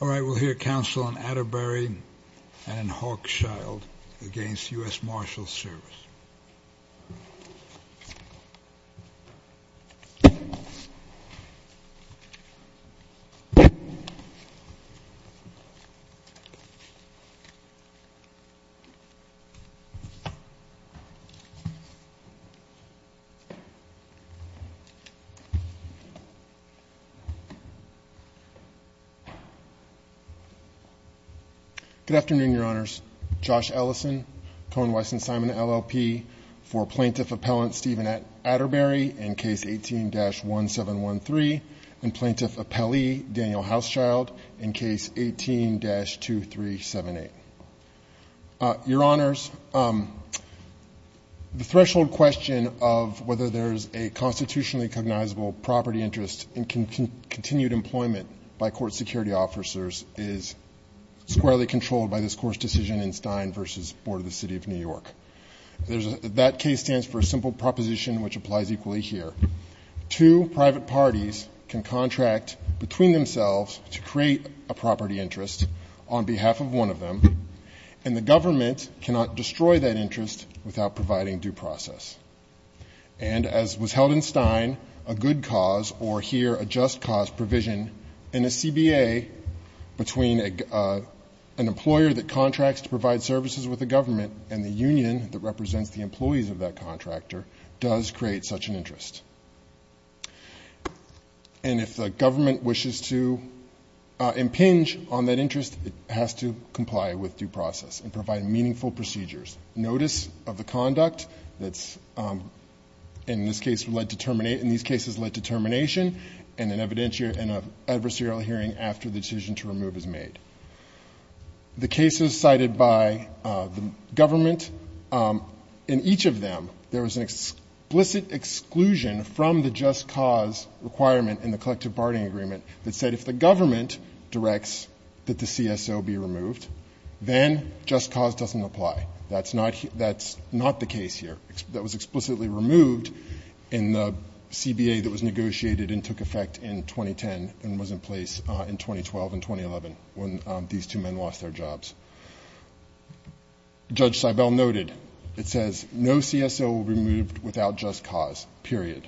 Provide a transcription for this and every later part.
All right, we'll hear counsel on Atterbury and Horkchild against U.S. Marshals Service. Good afternoon, Your Honors. Josh Ellison, Cohen, Weiss, and Simon, LLP for Plaintiff Appellant Stephen Atterbury in Case 18-1713 and Plaintiff Appellee Daniel Houschild in Case 18-2378. Your Honors, the threshold question of whether there's a constitutionally cognizable property interest in continued employment by court security officers is squarely controlled by this court's decision in Stein v. Board of the City of New York. That case stands for a simple proposition which applies equally here. Two private parties can contract between themselves to create a property interest on behalf of one of them, and the government cannot destroy that interest without providing due process. And as was held in Stein, a good cause or here a just cause provision in a CBA between an employer that contracts to provide services with the government and the union that represents the employees of that contractor does create such an interest. And if the government wishes to impinge on that interest, it has to comply with due process and provide meaningful procedures. Notice of the conduct that's, in this case, led to terminate, in these cases led to termination and an evidentiary and an adversarial hearing after the decision to remove is made. The cases cited by the government, in each of them, there was an explicit exclusion from the just cause requirement in the collective bargaining agreement that said if the government directs that the CSO be removed, then just cause doesn't apply. That's not the case here. That was explicitly removed in the CBA that was negotiated and took effect in 2010 and was in place in 2012 and 2011 when these two men lost their jobs. Judge Seibel noted, it says, no CSO will be removed without just cause, period.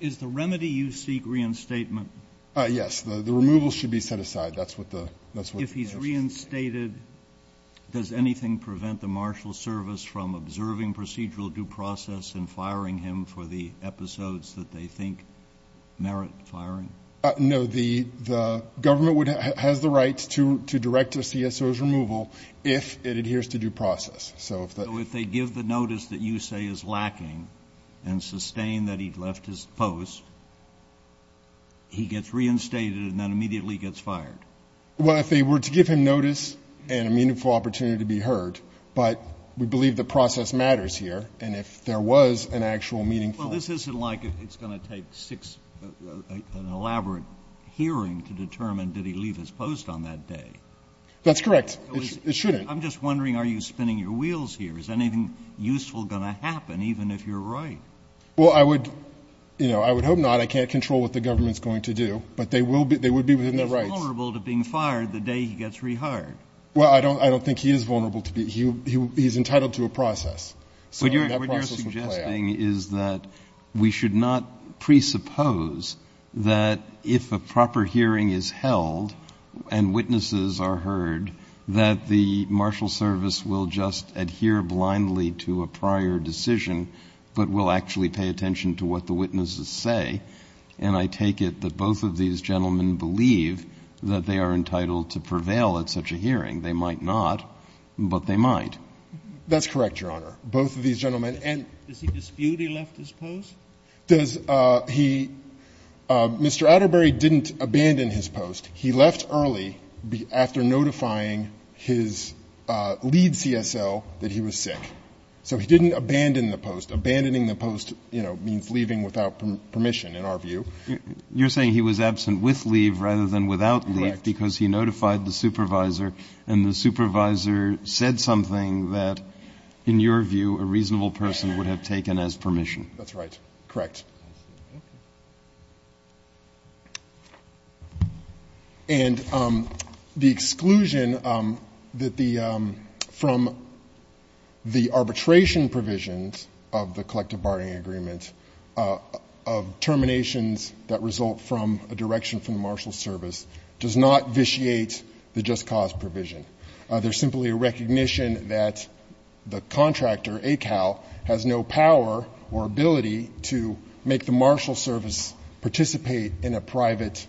Is the remedy you seek reinstatement? Yes. The removal should be set aside. If he's reinstated, does anything prevent the marshal service from observing procedural due process and firing him for the episodes that they think merit firing? No. The government has the right to direct a CSO's removal if it adheres to due process. So if they give the notice that you say is lacking and sustain that he left his post, he gets reinstated and then immediately gets fired? Well, if they were to give him notice and a meaningful opportunity to be heard, but we believe the process matters here. And if there was an actual meaningful ---- Well, this isn't like it's going to take six, an elaborate hearing to determine did he leave his post on that day. That's correct. It shouldn't. I'm just wondering, are you spinning your wheels here? Is anything useful going to happen, even if you're right? Well, I would, you know, I would hope not. I can't control what the government's going to do. But they would be within their rights. He's vulnerable to being fired the day he gets rehired. Well, I don't think he is vulnerable to be. He's entitled to a process. So that process would play out. What I'm saying is that we should not presuppose that if a proper hearing is held and witnesses are heard, that the marshal service will just adhere blindly to a prior decision, but will actually pay attention to what the witnesses say. And I take it that both of these gentlemen believe that they are entitled to prevail at such a hearing. They might not, but they might. That's correct, Your Honor. Does he dispute he left his post? Does he? Mr. Atterbury didn't abandon his post. He left early after notifying his lead CSO that he was sick. So he didn't abandon the post. Abandoning the post, you know, means leaving without permission, in our view. You're saying he was absent with leave rather than without leave because he notified the supervisor, and the supervisor said something that, in your view, a reasonable person would have taken as permission. That's right. Correct. And the exclusion from the arbitration provisions of the collective bargaining agreement, of terminations that result from a direction from the marshal service, does not vitiate the just cause provision. There's simply a recognition that the contractor, ACAL, has no power or ability to make the marshal service participate in a private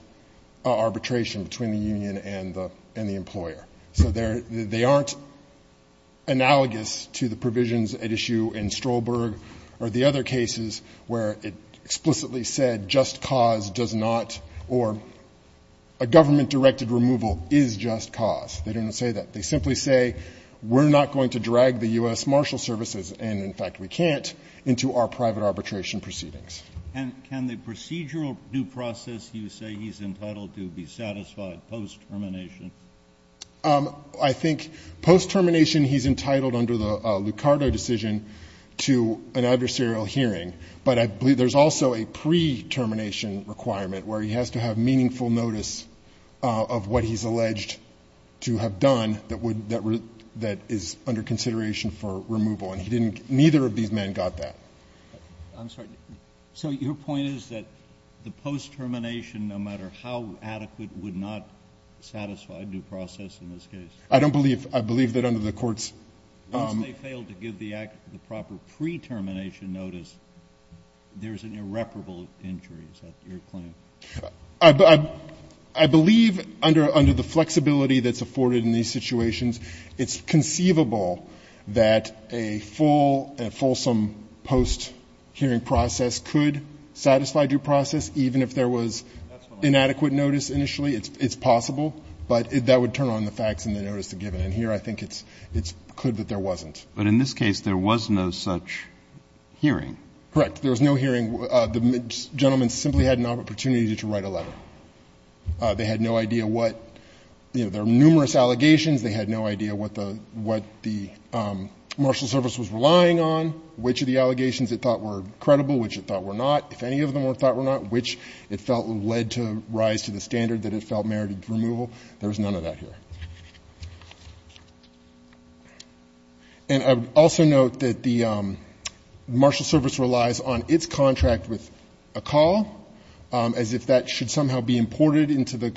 arbitration between the union and the employer. So they aren't analogous to the provisions at issue in Strolberg or the other cases where it explicitly said just cause does not or a government-directed removal is just cause. They didn't say that. They simply say we're not going to drag the U.S. marshal services, and in fact we can't, into our private arbitration proceedings. And can the procedural due process you say he's entitled to be satisfied post-termination? I think post-termination he's entitled, under the Lucardo decision, to an adversarial hearing, but I believe there's also a pre-termination requirement where he has to have meaningful notice of what he's alleged to have done that would, that is under consideration for removal. And he didn't, neither of these men got that. I'm sorry. So your point is that the post-termination, no matter how adequate, would not satisfy due process in this case? I don't believe, I believe that under the court's. Once they fail to give the proper pre-termination notice, there's an irreparable injury, is that your claim? I believe under the flexibility that's afforded in these situations, it's conceivable that a full, a fulsome post-hearing process could satisfy due process, even if there was inadequate notice initially. It's possible. But that would turn on the facts and the notice to give it. And here I think it's, it's clear that there wasn't. But in this case, there was no such hearing. Correct. There was no hearing. The gentleman simply had not an opportunity to write a letter. They had no idea what, you know, there are numerous allegations. They had no idea what the, what the marshal service was relying on, which of the allegations it thought were credible, which it thought were not. If any of them were thought were not, which it felt led to rise to the standard that it felt merited removal, there was none of that here. And I would also note that the marshal service relies on its contract with a call as if that should somehow be imported into the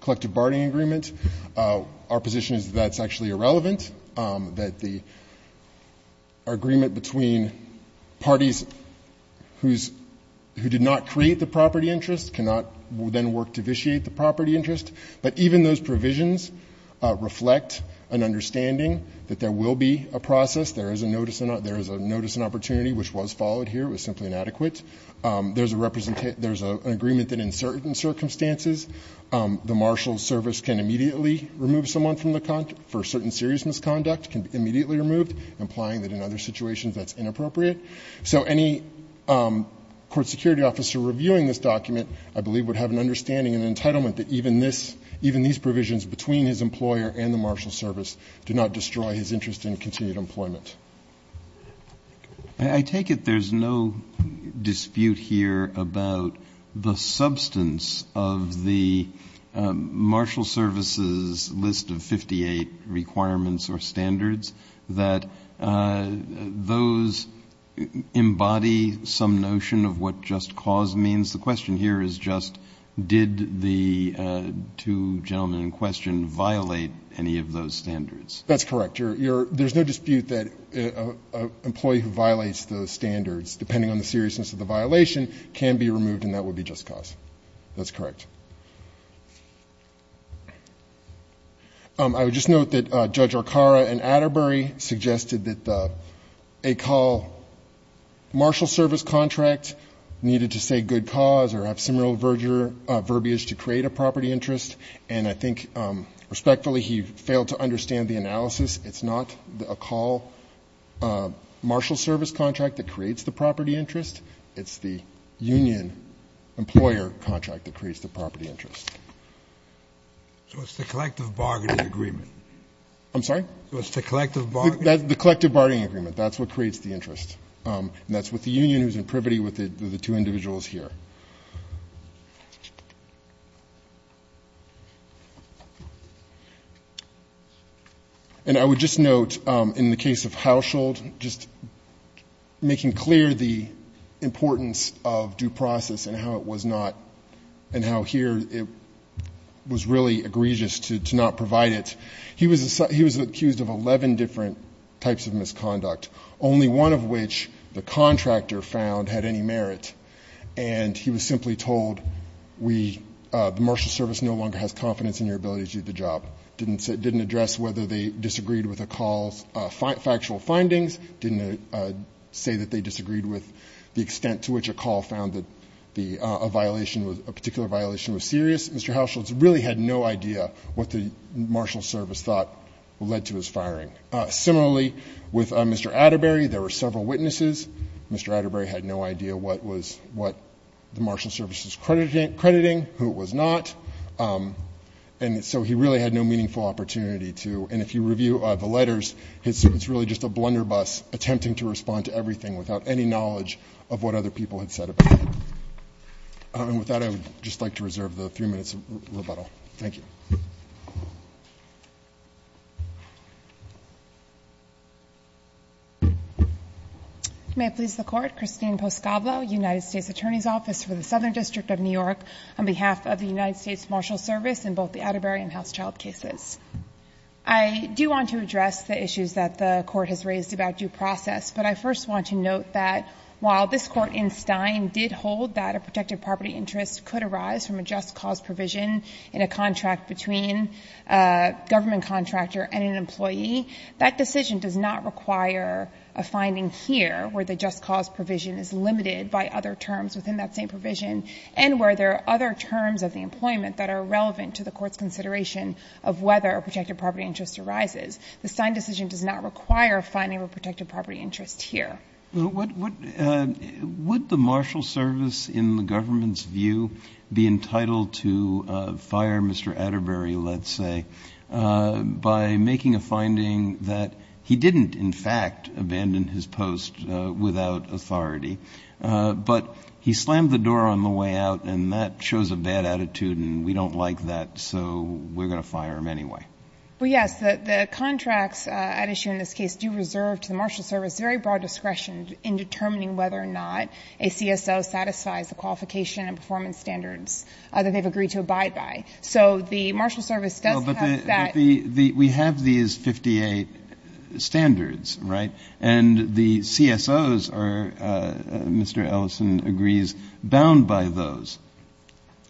collective bargaining agreement. Our position is that that's actually irrelevant, that the agreement between parties who did not create the property interest cannot then work to vitiate the property interest. But even those provisions reflect an understanding that there will be a process. There is a notice, there is a notice and opportunity, which was followed here. It was simply inadequate. There's a representation, there's an agreement that in certain circumstances, the marshal service can immediately remove someone from the, for certain serious misconduct can be immediately removed, implying that in other situations that's inappropriate. So any court security officer reviewing this document, I believe, would have an understanding and an entitlement that even this, even these provisions between his employer and the marshal service do not destroy his interest in continued employment. I take it there's no dispute here about the substance of the marshal service's requirements or standards, that those embody some notion of what just cause means. The question here is just did the two gentlemen in question violate any of those standards? That's correct. There's no dispute that an employee who violates those standards, depending on the seriousness of the violation, can be removed and that would be just cause. That's correct. I would just note that Judge Arcaro and Atterbury suggested that a call marshal service contract needed to say good cause or have similar verbiage to create a property interest. And I think respectfully he failed to understand the analysis. It's not a call marshal service contract that creates the property interest. It's the union employer contract that creates the property interest. So it's the collective bargaining agreement? I'm sorry? So it's the collective bargaining agreement? The collective bargaining agreement. That's what creates the interest. And that's with the union who's in privity with the two individuals here. And I would just note in the case of Hauschild, just making clear the importance of due process and how it was not and how here it was really egregious to not provide it. He was accused of 11 different types of misconduct, only one of which the contractor found had any merit. And he was simply told the marshal service no longer has confidence in your ability to do the job. Didn't address whether they disagreed with Arcaro's factual findings, didn't say that they disagreed with the extent to which Arcaro found that a particular violation was serious. Mr. Hauschild really had no idea what the marshal service thought led to his firing. Similarly, with Mr. Atterbury, there were several witnesses. Mr. Atterbury had no idea what the marshal service was crediting, who it was not. And so he really had no meaningful opportunity to, and if you review the letters, it's really just a blunderbuss attempting to respond to everything without any knowledge of what other people had said about it. And with that, I would just like to reserve the three minutes of rebuttal. Thank you. May it please the Court. Christine Poscablo, United States Attorney's Office for the Southern District of New York, on behalf of the United States Marshal Service in both the Atterbury and Hauschild cases. I do want to address the issues that the Court has raised about due process, but I first want to note that while this Court in Stein did hold that a protected property interest could arise from a just cause provision in a contract between a government contractor and an employee, that decision does not require a finding here where the just cause provision is limited by other terms within that same provision and where there are other terms of the employment that are relevant to the Court's consideration of whether a protected property interest arises. The Stein decision does not require finding of a protected property interest here. But would the marshal service, in the government's view, be entitled to fire Mr. Atterbury, let's say, by making a finding that he didn't in fact abandon his post without authority, but he slammed the door on the way out and that shows a bad attitude and we don't like that, so we're going to fire him anyway? Well, yes. The contracts at issue in this case do reserve to the marshal service very broad discretion in determining whether or not a CSO satisfies the qualification and performance standards that they've agreed to abide by. So the marshal service does have that. But we have these 58 standards, right? And the CSOs are, Mr. Ellison agrees, bound by those,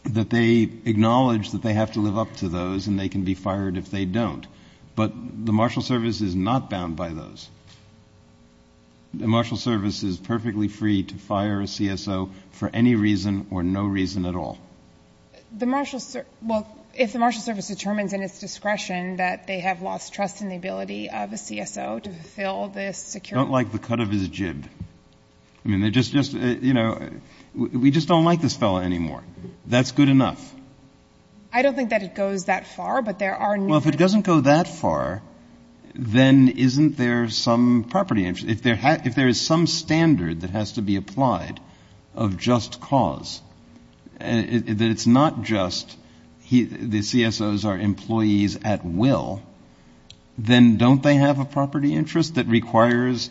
that they acknowledge that they have to live up to those and they can be fired if they don't. But the marshal service is not bound by those. The marshal service is perfectly free to fire a CSO for any reason or no reason at all. The marshal service, well, if the marshal service determines in its discretion that they have lost trust in the ability of a CSO to fulfill this security. I don't like the cut of his jib. I mean, they're just, you know, we just don't like this fellow anymore. That's good enough. I don't think that it goes that far, but there are. Well, if it doesn't go that far, then isn't there some property interest? If there is some standard that has to be applied of just cause, that it's not just the CSOs are employees at will, then don't they have a property interest that requires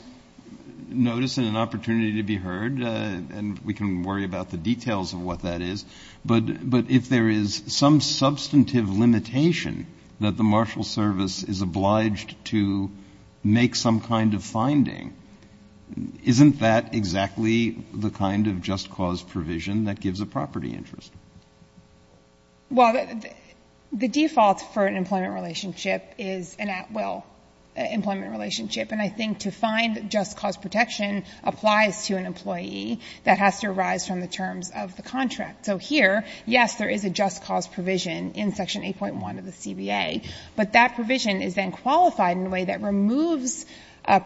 notice and an opportunity to be heard? And we can worry about the details of what that is. But if there is some substantive limitation that the marshal service is obliged to make some kind of finding, isn't that exactly the kind of just cause provision that gives a property interest? Well, the default for an employment relationship is an at will employment relationship. And I think to find just cause protection applies to an employee that has to arise from the terms of the contract. So here, yes, there is a just cause provision in Section 8.1 of the CBA, but that provision is then qualified in a way that removes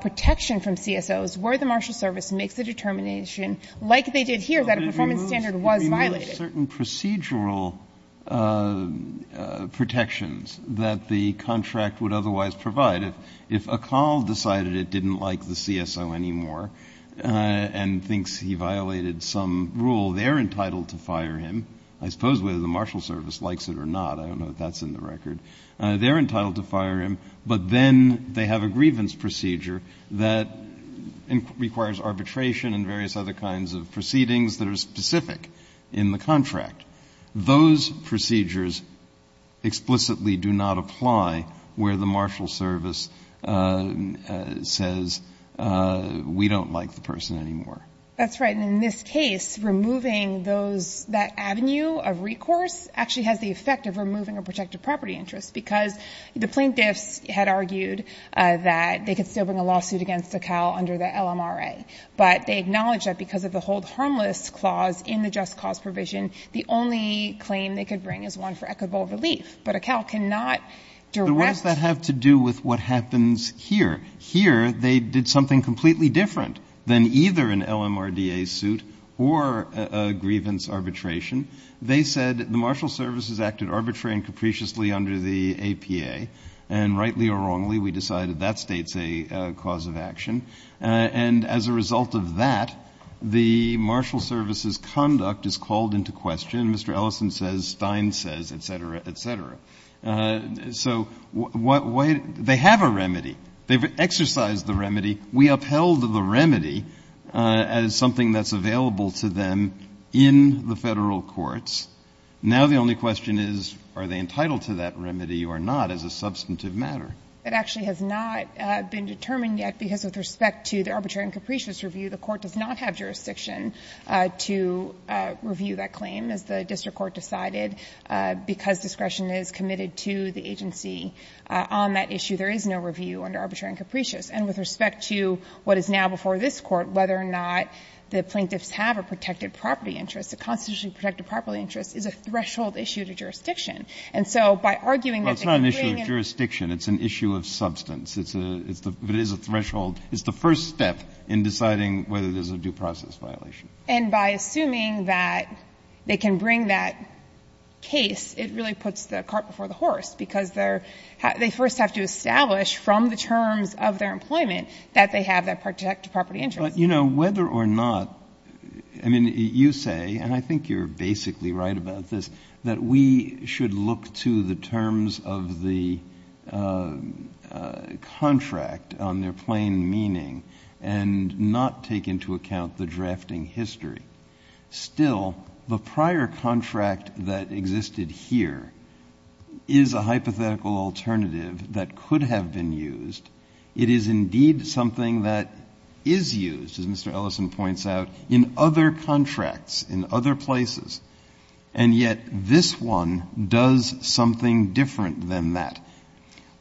protection from CSOs where the marshal service makes a determination like they did here that a performance standard was violated. But it removes certain procedural protections that the contract would otherwise provide. If a call decided it didn't like the CSO anymore and thinks he violated some rule, they're entitled to fire him. I suppose whether the marshal service likes it or not. I don't know if that's in the record. They're entitled to fire him, but then they have a grievance procedure that requires arbitration and various other kinds of proceedings that are specific in the contract. Those procedures explicitly do not apply where the marshal service says we don't like the person anymore. That's right. And in this case, removing those, that avenue of recourse actually has the effect of removing a protected property interest because the plaintiffs had argued that they could still bring a lawsuit against a COW under the LMRA. But they acknowledged that because of the hold harmless clause in the just cause provision, the only claim they could bring is one for equitable relief. But a COW cannot direct. But what does that have to do with what happens here? Here, they did something completely different than either an LMRDA suit or a grievance arbitration. They said the marshal service has acted arbitrarily and capriciously under the APA. And rightly or wrongly, we decided that states a cause of action. And as a result of that, the marshal service's conduct is called into question. Mr. Ellison says, Stein says, et cetera, et cetera. So they have a remedy. They've exercised the remedy. We upheld the remedy as something that's available to them in the Federal courts. Now the only question is, are they entitled to that remedy or not as a substantive matter? It actually has not been determined yet because with respect to the arbitrary and capricious review, the Court does not have jurisdiction to review that claim as the district court decided. Because discretion is committed to the agency on that issue, there is no review under arbitrary and capricious. And with respect to what is now before this Court, whether or not the plaintiffs have a protected property interest, a constitutionally protected property interest is a threshold issue to jurisdiction. And so by arguing that they can bring in the case. Breyer. Well, it's not an issue of jurisdiction. It's an issue of substance. It's a threshold. It's the first step in deciding whether there's a due process violation. And by assuming that they can bring that case, it really puts the cart before the that they have that protected property interest. But, you know, whether or not, I mean, you say, and I think you're basically right about this, that we should look to the terms of the contract on their plain meaning and not take into account the drafting history. Still, the prior contract that existed here is a hypothetical alternative that could have been used. It is indeed something that is used, as Mr. Ellison points out, in other contracts, in other places. And yet this one does something different than that.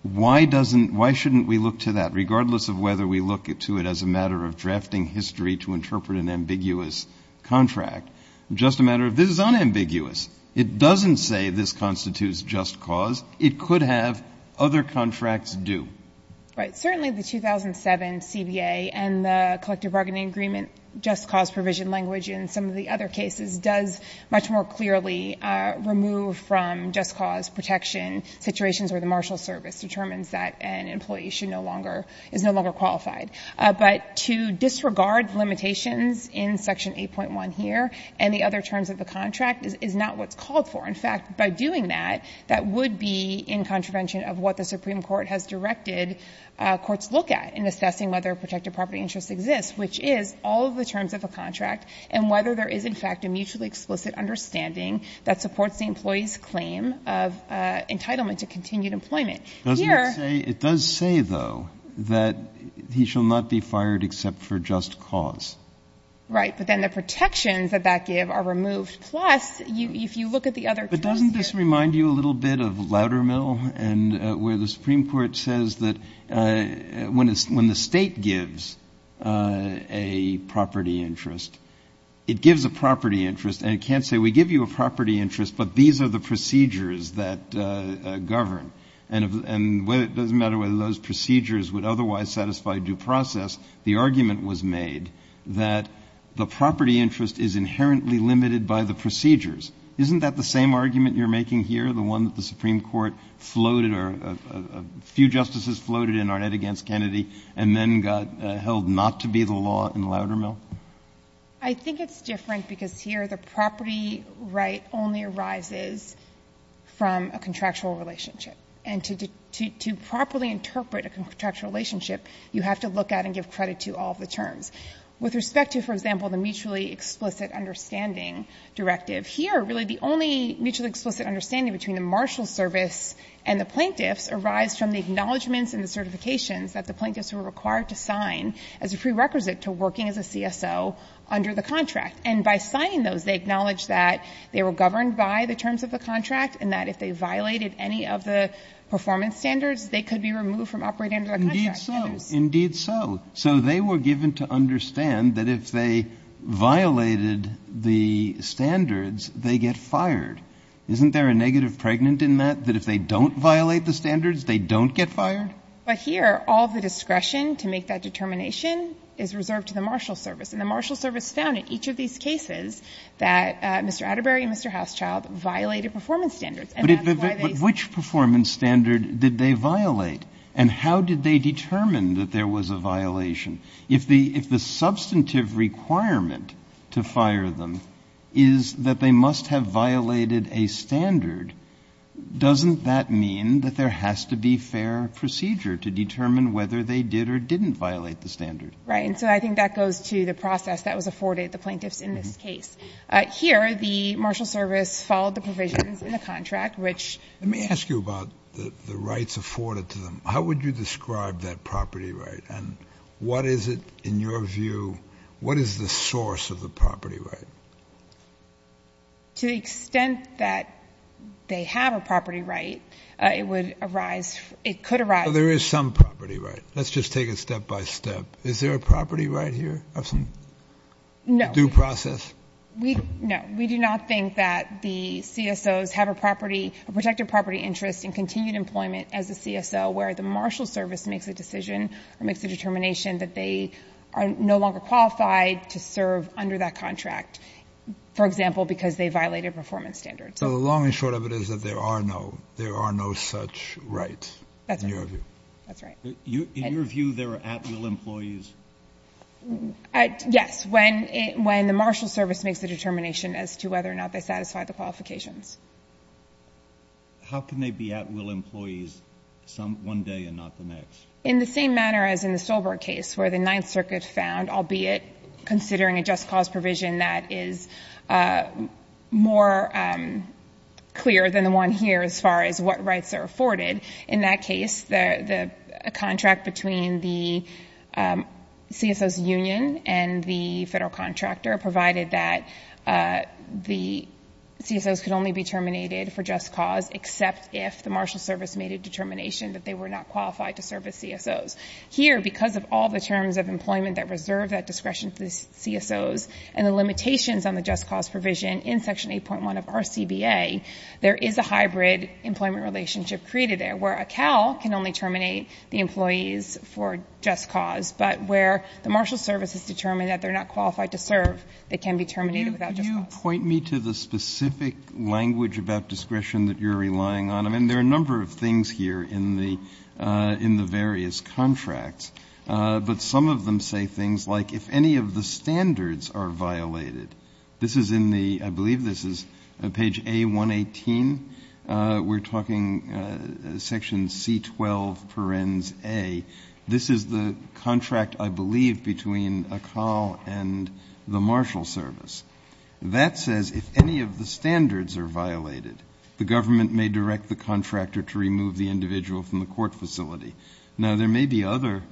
Why doesn't, why shouldn't we look to that, regardless of whether we look to it as a matter of drafting history to interpret an ambiguous contract? Just a matter of this is unambiguous. It doesn't say this constitutes just cause. It could have other contracts do. Right. Certainly the 2007 CBA and the collective bargaining agreement just cause provision language in some of the other cases does much more clearly remove from just cause protection situations where the marshal service determines that an employee should no longer, is no longer qualified. But to disregard limitations in Section 8.1 here and the other terms of the contract is not what's called for. In fact, by doing that, that would be in contravention of what the Supreme Court has directed courts look at in assessing whether protected property interests exist, which is all of the terms of the contract and whether there is, in fact, a mutually explicit understanding that supports the employee's claim of entitlement to continued employment. Here. It does say, though, that he shall not be fired except for just cause. Right. But then the protections that that give are removed. Plus, if you look at the other terms here. Does that remind you a little bit of Loudermill and where the Supreme Court says that when the State gives a property interest, it gives a property interest and it can't say we give you a property interest, but these are the procedures that govern. And it doesn't matter whether those procedures would otherwise satisfy due process. The argument was made that the property interest is inherently limited by the procedures. Isn't that the same argument you are making here? The one that the Supreme Court floated or a few justices floated in Arnett against Kennedy and then got held not to be the law in Loudermill? I think it's different because here the property right only arises from a contractual relationship. And to properly interpret a contractual relationship, you have to look at and give credit to all of the terms. With respect to, for example, the mutually explicit understanding directive, here really the only mutually explicit understanding between the marshal service and the plaintiffs arise from the acknowledgments and certifications that the plaintiffs were required to sign as a prerequisite to working as a CSO under the contract. And by signing those, they acknowledge that they were governed by the terms of the contract and that if they violated any of the performance standards, they could be removed from operating under the contract. Indeed so. Indeed so. So they were given to understand that if they violated the standards, they get fired. Isn't there a negative pregnant in that, that if they don't violate the standards, they don't get fired? But here all of the discretion to make that determination is reserved to the marshal service. And the marshal service found in each of these cases that Mr. Atterbury and Mr. Hauschild violated performance standards. But which performance standard did they violate? And how did they determine that there was a violation? If the substantive requirement to fire them is that they must have violated a standard, doesn't that mean that there has to be fair procedure to determine whether they did or didn't violate the standard? Right. And so I think that goes to the process that was afforded the plaintiffs in this case. Here the marshal service followed the provisions in the contract, which ---- Let me ask you about the rights afforded to them. How would you describe that property right? And what is it in your view, what is the source of the property right? To the extent that they have a property right, it would arise, it could arise ---- There is some property right. Let's just take it step by step. Is there a property right here of some due process? No. No. We do not think that the CSOs have a property, a protected property interest in continued employment as a CSO where the marshal service makes a decision or makes a determination that they are no longer qualified to serve under that contract, for example, because they violated performance standards. So the long and short of it is that there are no, there are no such rights in your view. That's right. That's right. In your view, there are at-will employees? Yes. When the marshal service makes a determination as to whether or not they satisfy the qualifications. How can they be at-will employees one day and not the next? In the same manner as in the Stolberg case where the Ninth Circuit found, albeit considering a just cause provision that is more clear than the one here as far as what rights are afforded. In that case, a contract between the CSOs union and the federal contractor provided that the CSOs could only be terminated for just cause except if the marshal service made a determination that they were not qualified to serve as CSOs. Here, because of all the terms of employment that reserve that discretion to the CSOs and the limitations on the just cause provision in Section 8.1 of RCBA, there is a hybrid employment relationship created there where a CAL can only terminate the employees for just cause, but where the marshal service has determined that they're not qualified to serve, they can be terminated without just cause. Can you point me to the specific language about discretion that you're relying on? I mean, there are a number of things here in the various contracts, but some of them say things like if any of the standards are violated. This is in the, I believe this is page A118. We're talking Section C12, parens A. This is the contract, I believe, between a CAL and the marshal service. That says if any of the standards are violated, the government may direct the contractor to remove the individual from the court facility. Now, there may be other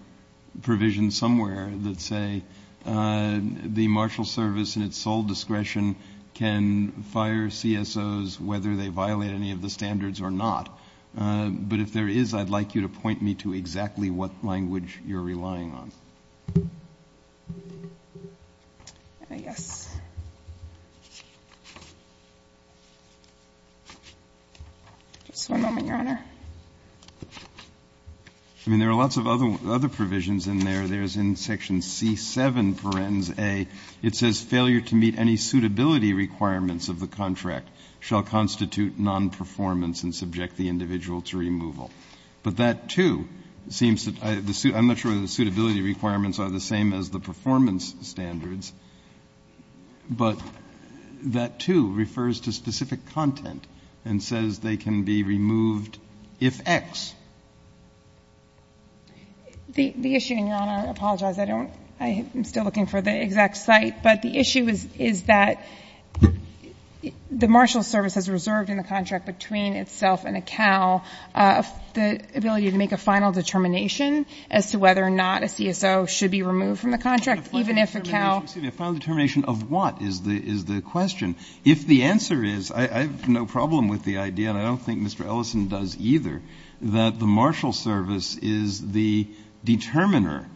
provisions somewhere that say the marshal service and its sole discretion can fire CSOs whether they violate any of the standards or not. But if there is, I'd like you to point me to exactly what language you're relying on. I guess. Just one moment, Your Honor. I mean, there are lots of other provisions in there. There's in Section C7, parens A, it says failure to meet any suitability requirements of the contract shall constitute nonperformance and subject the individual to removal. But that, too, seems to, I'm not sure whether the suitability requirements are the same as the performance standards, but that, too, refers to specific content and says they can be removed if X. The issue, and Your Honor, I apologize, I don't, I'm still looking for the exact cite, but the issue is that the marshal service has reserved in the contract between itself and a CAL the ability to make a final determination as to whether or not a CSO should be removed from the contract, even if a CAL. A final determination of what is the question? If the answer is, I have no problem with the idea, and I don't think Mr. Ellison does either, that the marshal service is the determiner,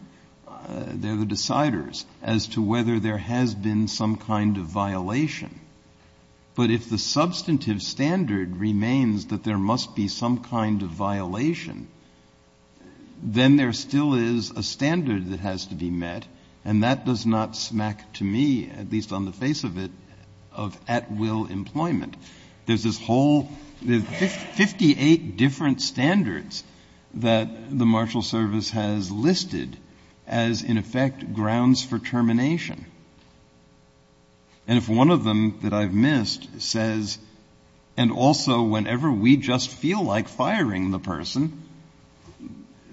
they're the deciders, as to whether there has been some kind of violation. But if the substantive standard remains that there must be some kind of violation, then there still is a standard that has to be met, and that does not smack to me, at least on the face of it, of at-will employment. There's this whole, there's 58 different standards that the marshal service has listed as, in effect, grounds for termination. And if one of them that I've missed says, and also whenever we just feel like firing the person,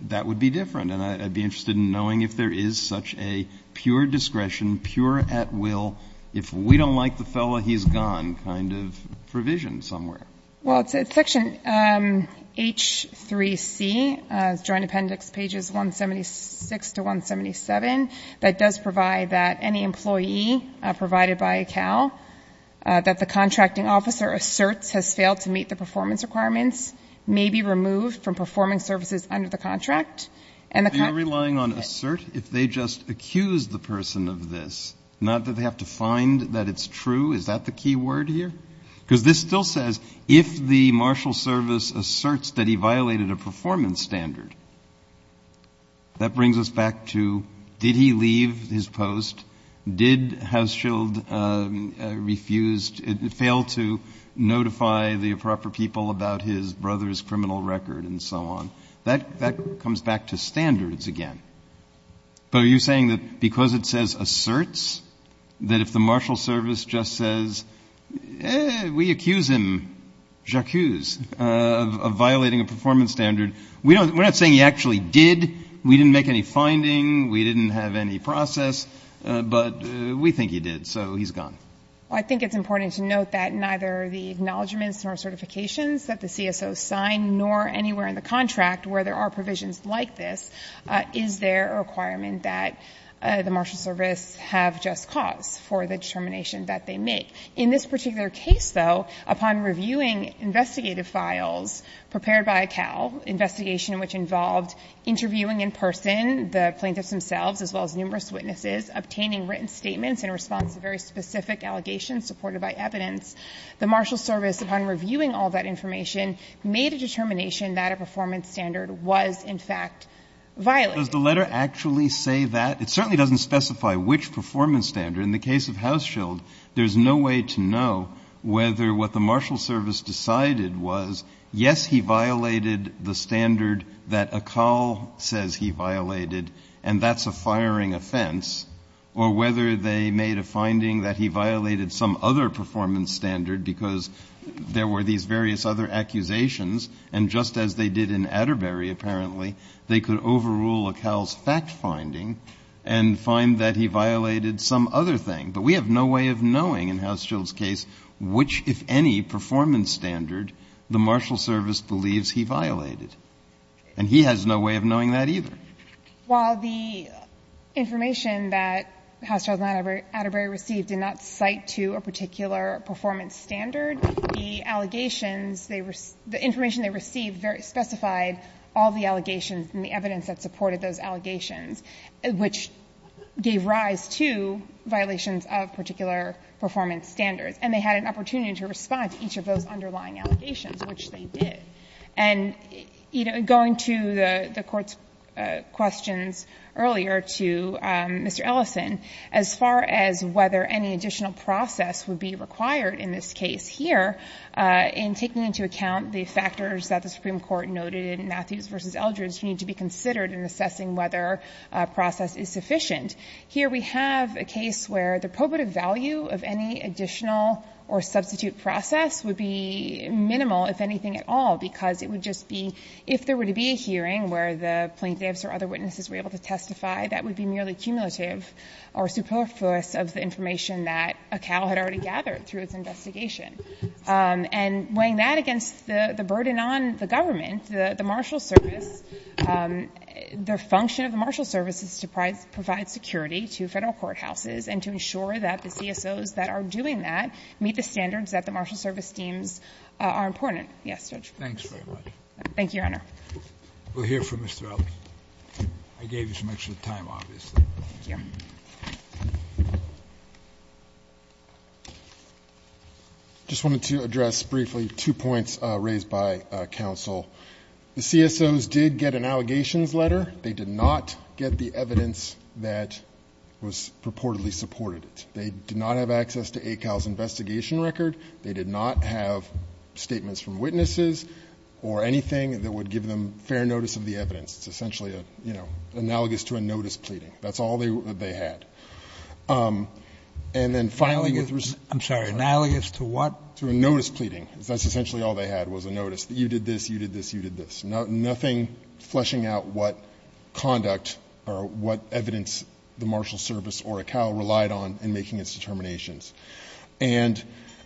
that would be different, and I'd be interested in knowing if there is such a pure discretion, pure at-will, if we don't like the fellow, he's gone, kind of provisioned somewhere. Well, it's at section H3C, Joint Appendix pages 176 to 177, that does provide that any employee provided by a CAL, that the contracting officer asserts has failed to meet the performance requirements, may be removed from performing services under the contract. And the contract... Are you relying on assert? If they just accuse the person of this, not that they have to find that it's true, is that the key word here? Because this still says, if the marshal service asserts that he violated a performance standard, that brings us back to, did he leave his post? Did Hauschild refuse, fail to notify the proper people about his brother's criminal record, and so on? That comes back to standards again. But are you saying that because it says asserts, that if the marshal service just says, we accuse him, j'accuse, of violating a performance standard, we're not saying he actually did, we didn't make any finding, we didn't have any process, but we think he did, so he's gone? I think it's important to note that neither the acknowledgments nor certifications that the CSOs sign, nor anywhere in the contract where there are provisions like this, is there a requirement that the marshal service have just cause for the claimant to make. In this particular case, though, upon reviewing investigative files prepared by CAL, investigation which involved interviewing in person the plaintiffs themselves, as well as numerous witnesses, obtaining written statements in response to very specific allegations supported by evidence, the marshal service, upon reviewing all that information, made a determination that a performance standard was, in fact, violated. Does the letter actually say that? It certainly doesn't specify which performance standard. In the case of House Shield, there's no way to know whether what the marshal service decided was, yes, he violated the standard that a CAL says he violated, and that's a firing offense, or whether they made a finding that he violated some other performance standard, because there were these various other accusations, and just as they did in Atterbury, apparently, they could overrule a CAL's fact finding and find that he violated that other thing. But we have no way of knowing in House Shield's case which, if any, performance standard the marshal service believes he violated, and he has no way of knowing that either. While the information that House Shield and Atterbury received did not cite to a particular performance standard, the allegations, the information they received specified all the allegations and the evidence that supported those allegations, which gave rise to violations of particular performance standards, and they had an opportunity to respond to each of those underlying allegations, which they did. And, you know, going to the Court's questions earlier to Mr. Ellison, as far as whether any additional process would be required in this case here, in taking into account the factors that the Supreme Court noted in Matthews v. Eldridge, you need to be considered in assessing whether a process is sufficient. Here we have a case where the probative value of any additional or substitute process would be minimal, if anything at all, because it would just be, if there were to be a hearing where the plaintiffs or other witnesses were able to testify, that would be merely cumulative or superfluous of the information that a CAL had already gathered through its investigation. And weighing that against the burden on the government, the marshal service, the function of the marshal service is to provide security to Federal courthouses and to ensure that the CSOs that are doing that meet the standards that the marshal service deems are important. Yes, Judge. Thanks very much. Thank you, Your Honor. We'll hear from Mr. Ellison. I gave you some extra time, obviously. Thank you. I just wanted to address briefly two points raised by counsel. The CSOs did get an allegations letter. They did not get the evidence that was purportedly supported. They did not have access to a CAL's investigation record. They did not have statements from witnesses or anything that would give them fair notice of the evidence. It's essentially analogous to a notice pleading. That's all they had. You did this, you did this, you did this. Nothing fleshing out what conduct or what evidence the marshal service or a CAL relied on in making its determinations. And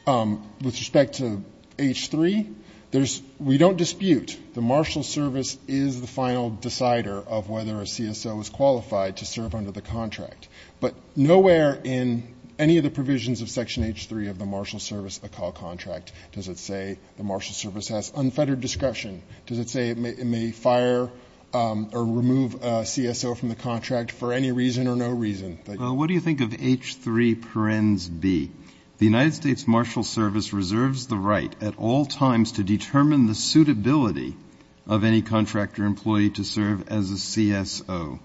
with respect to H-3, there's we don't dispute the marshal service is the final decider of whether a CSO is qualified to serve under the contract. under the contract. But nowhere in any of the provisions of Section H-3 of the marshal service, a CAL contract, does it say the marshal service has unfettered discretion. Does it say it may fire or remove a CSO from the contract for any reason or no reason? What do you think of H-3 parens B? The United States Marshal Service reserves the right at all times to determine the suitability of any contractor employee to serve as a CSO.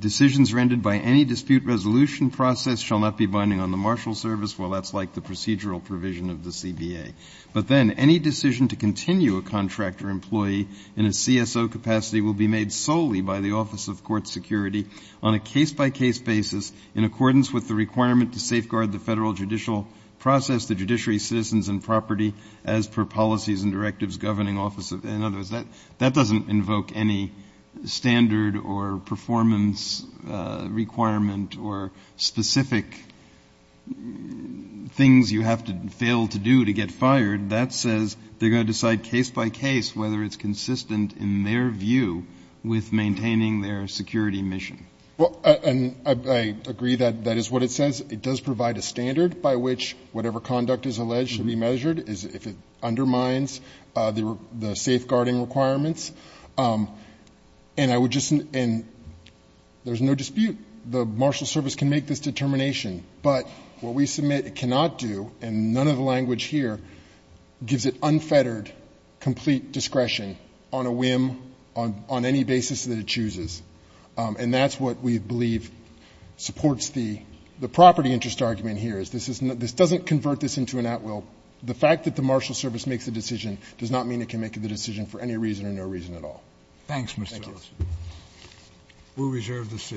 Decisions rendered by any dispute resolution process shall not be binding on the marshal service. Well, that's like the procedural provision of the CBA. But then any decision to continue a contractor employee in a CSO capacity will be made solely by the Office of Court Security on a case-by-case basis in accordance with the requirement to safeguard the federal judicial process, the judiciary, citizens, and property as per policies and directives governing office. In other words, that doesn't invoke any standard or performance requirement or specific things you have to fail to do to get fired. That says they're going to decide case-by-case whether it's consistent in their view with maintaining their security mission. Well, and I agree that that is what it says. It does provide a standard by which whatever conduct is alleged to be measured, if it undermines the safeguarding requirements. And I would just – and there's no dispute. The marshal service can make this determination. But what we submit it cannot do, and none of the language here gives it unfettered complete discretion on a whim, on any basis that it chooses. And that's what we believe supports the property interest argument here, is this doesn't convert this into an at-will. The fact that the marshal service makes the decision does not mean it can make the decision for any reason or no reason at all. Roberts. Thanks, Mr. Ellis. Thank you. We'll reserve the seat.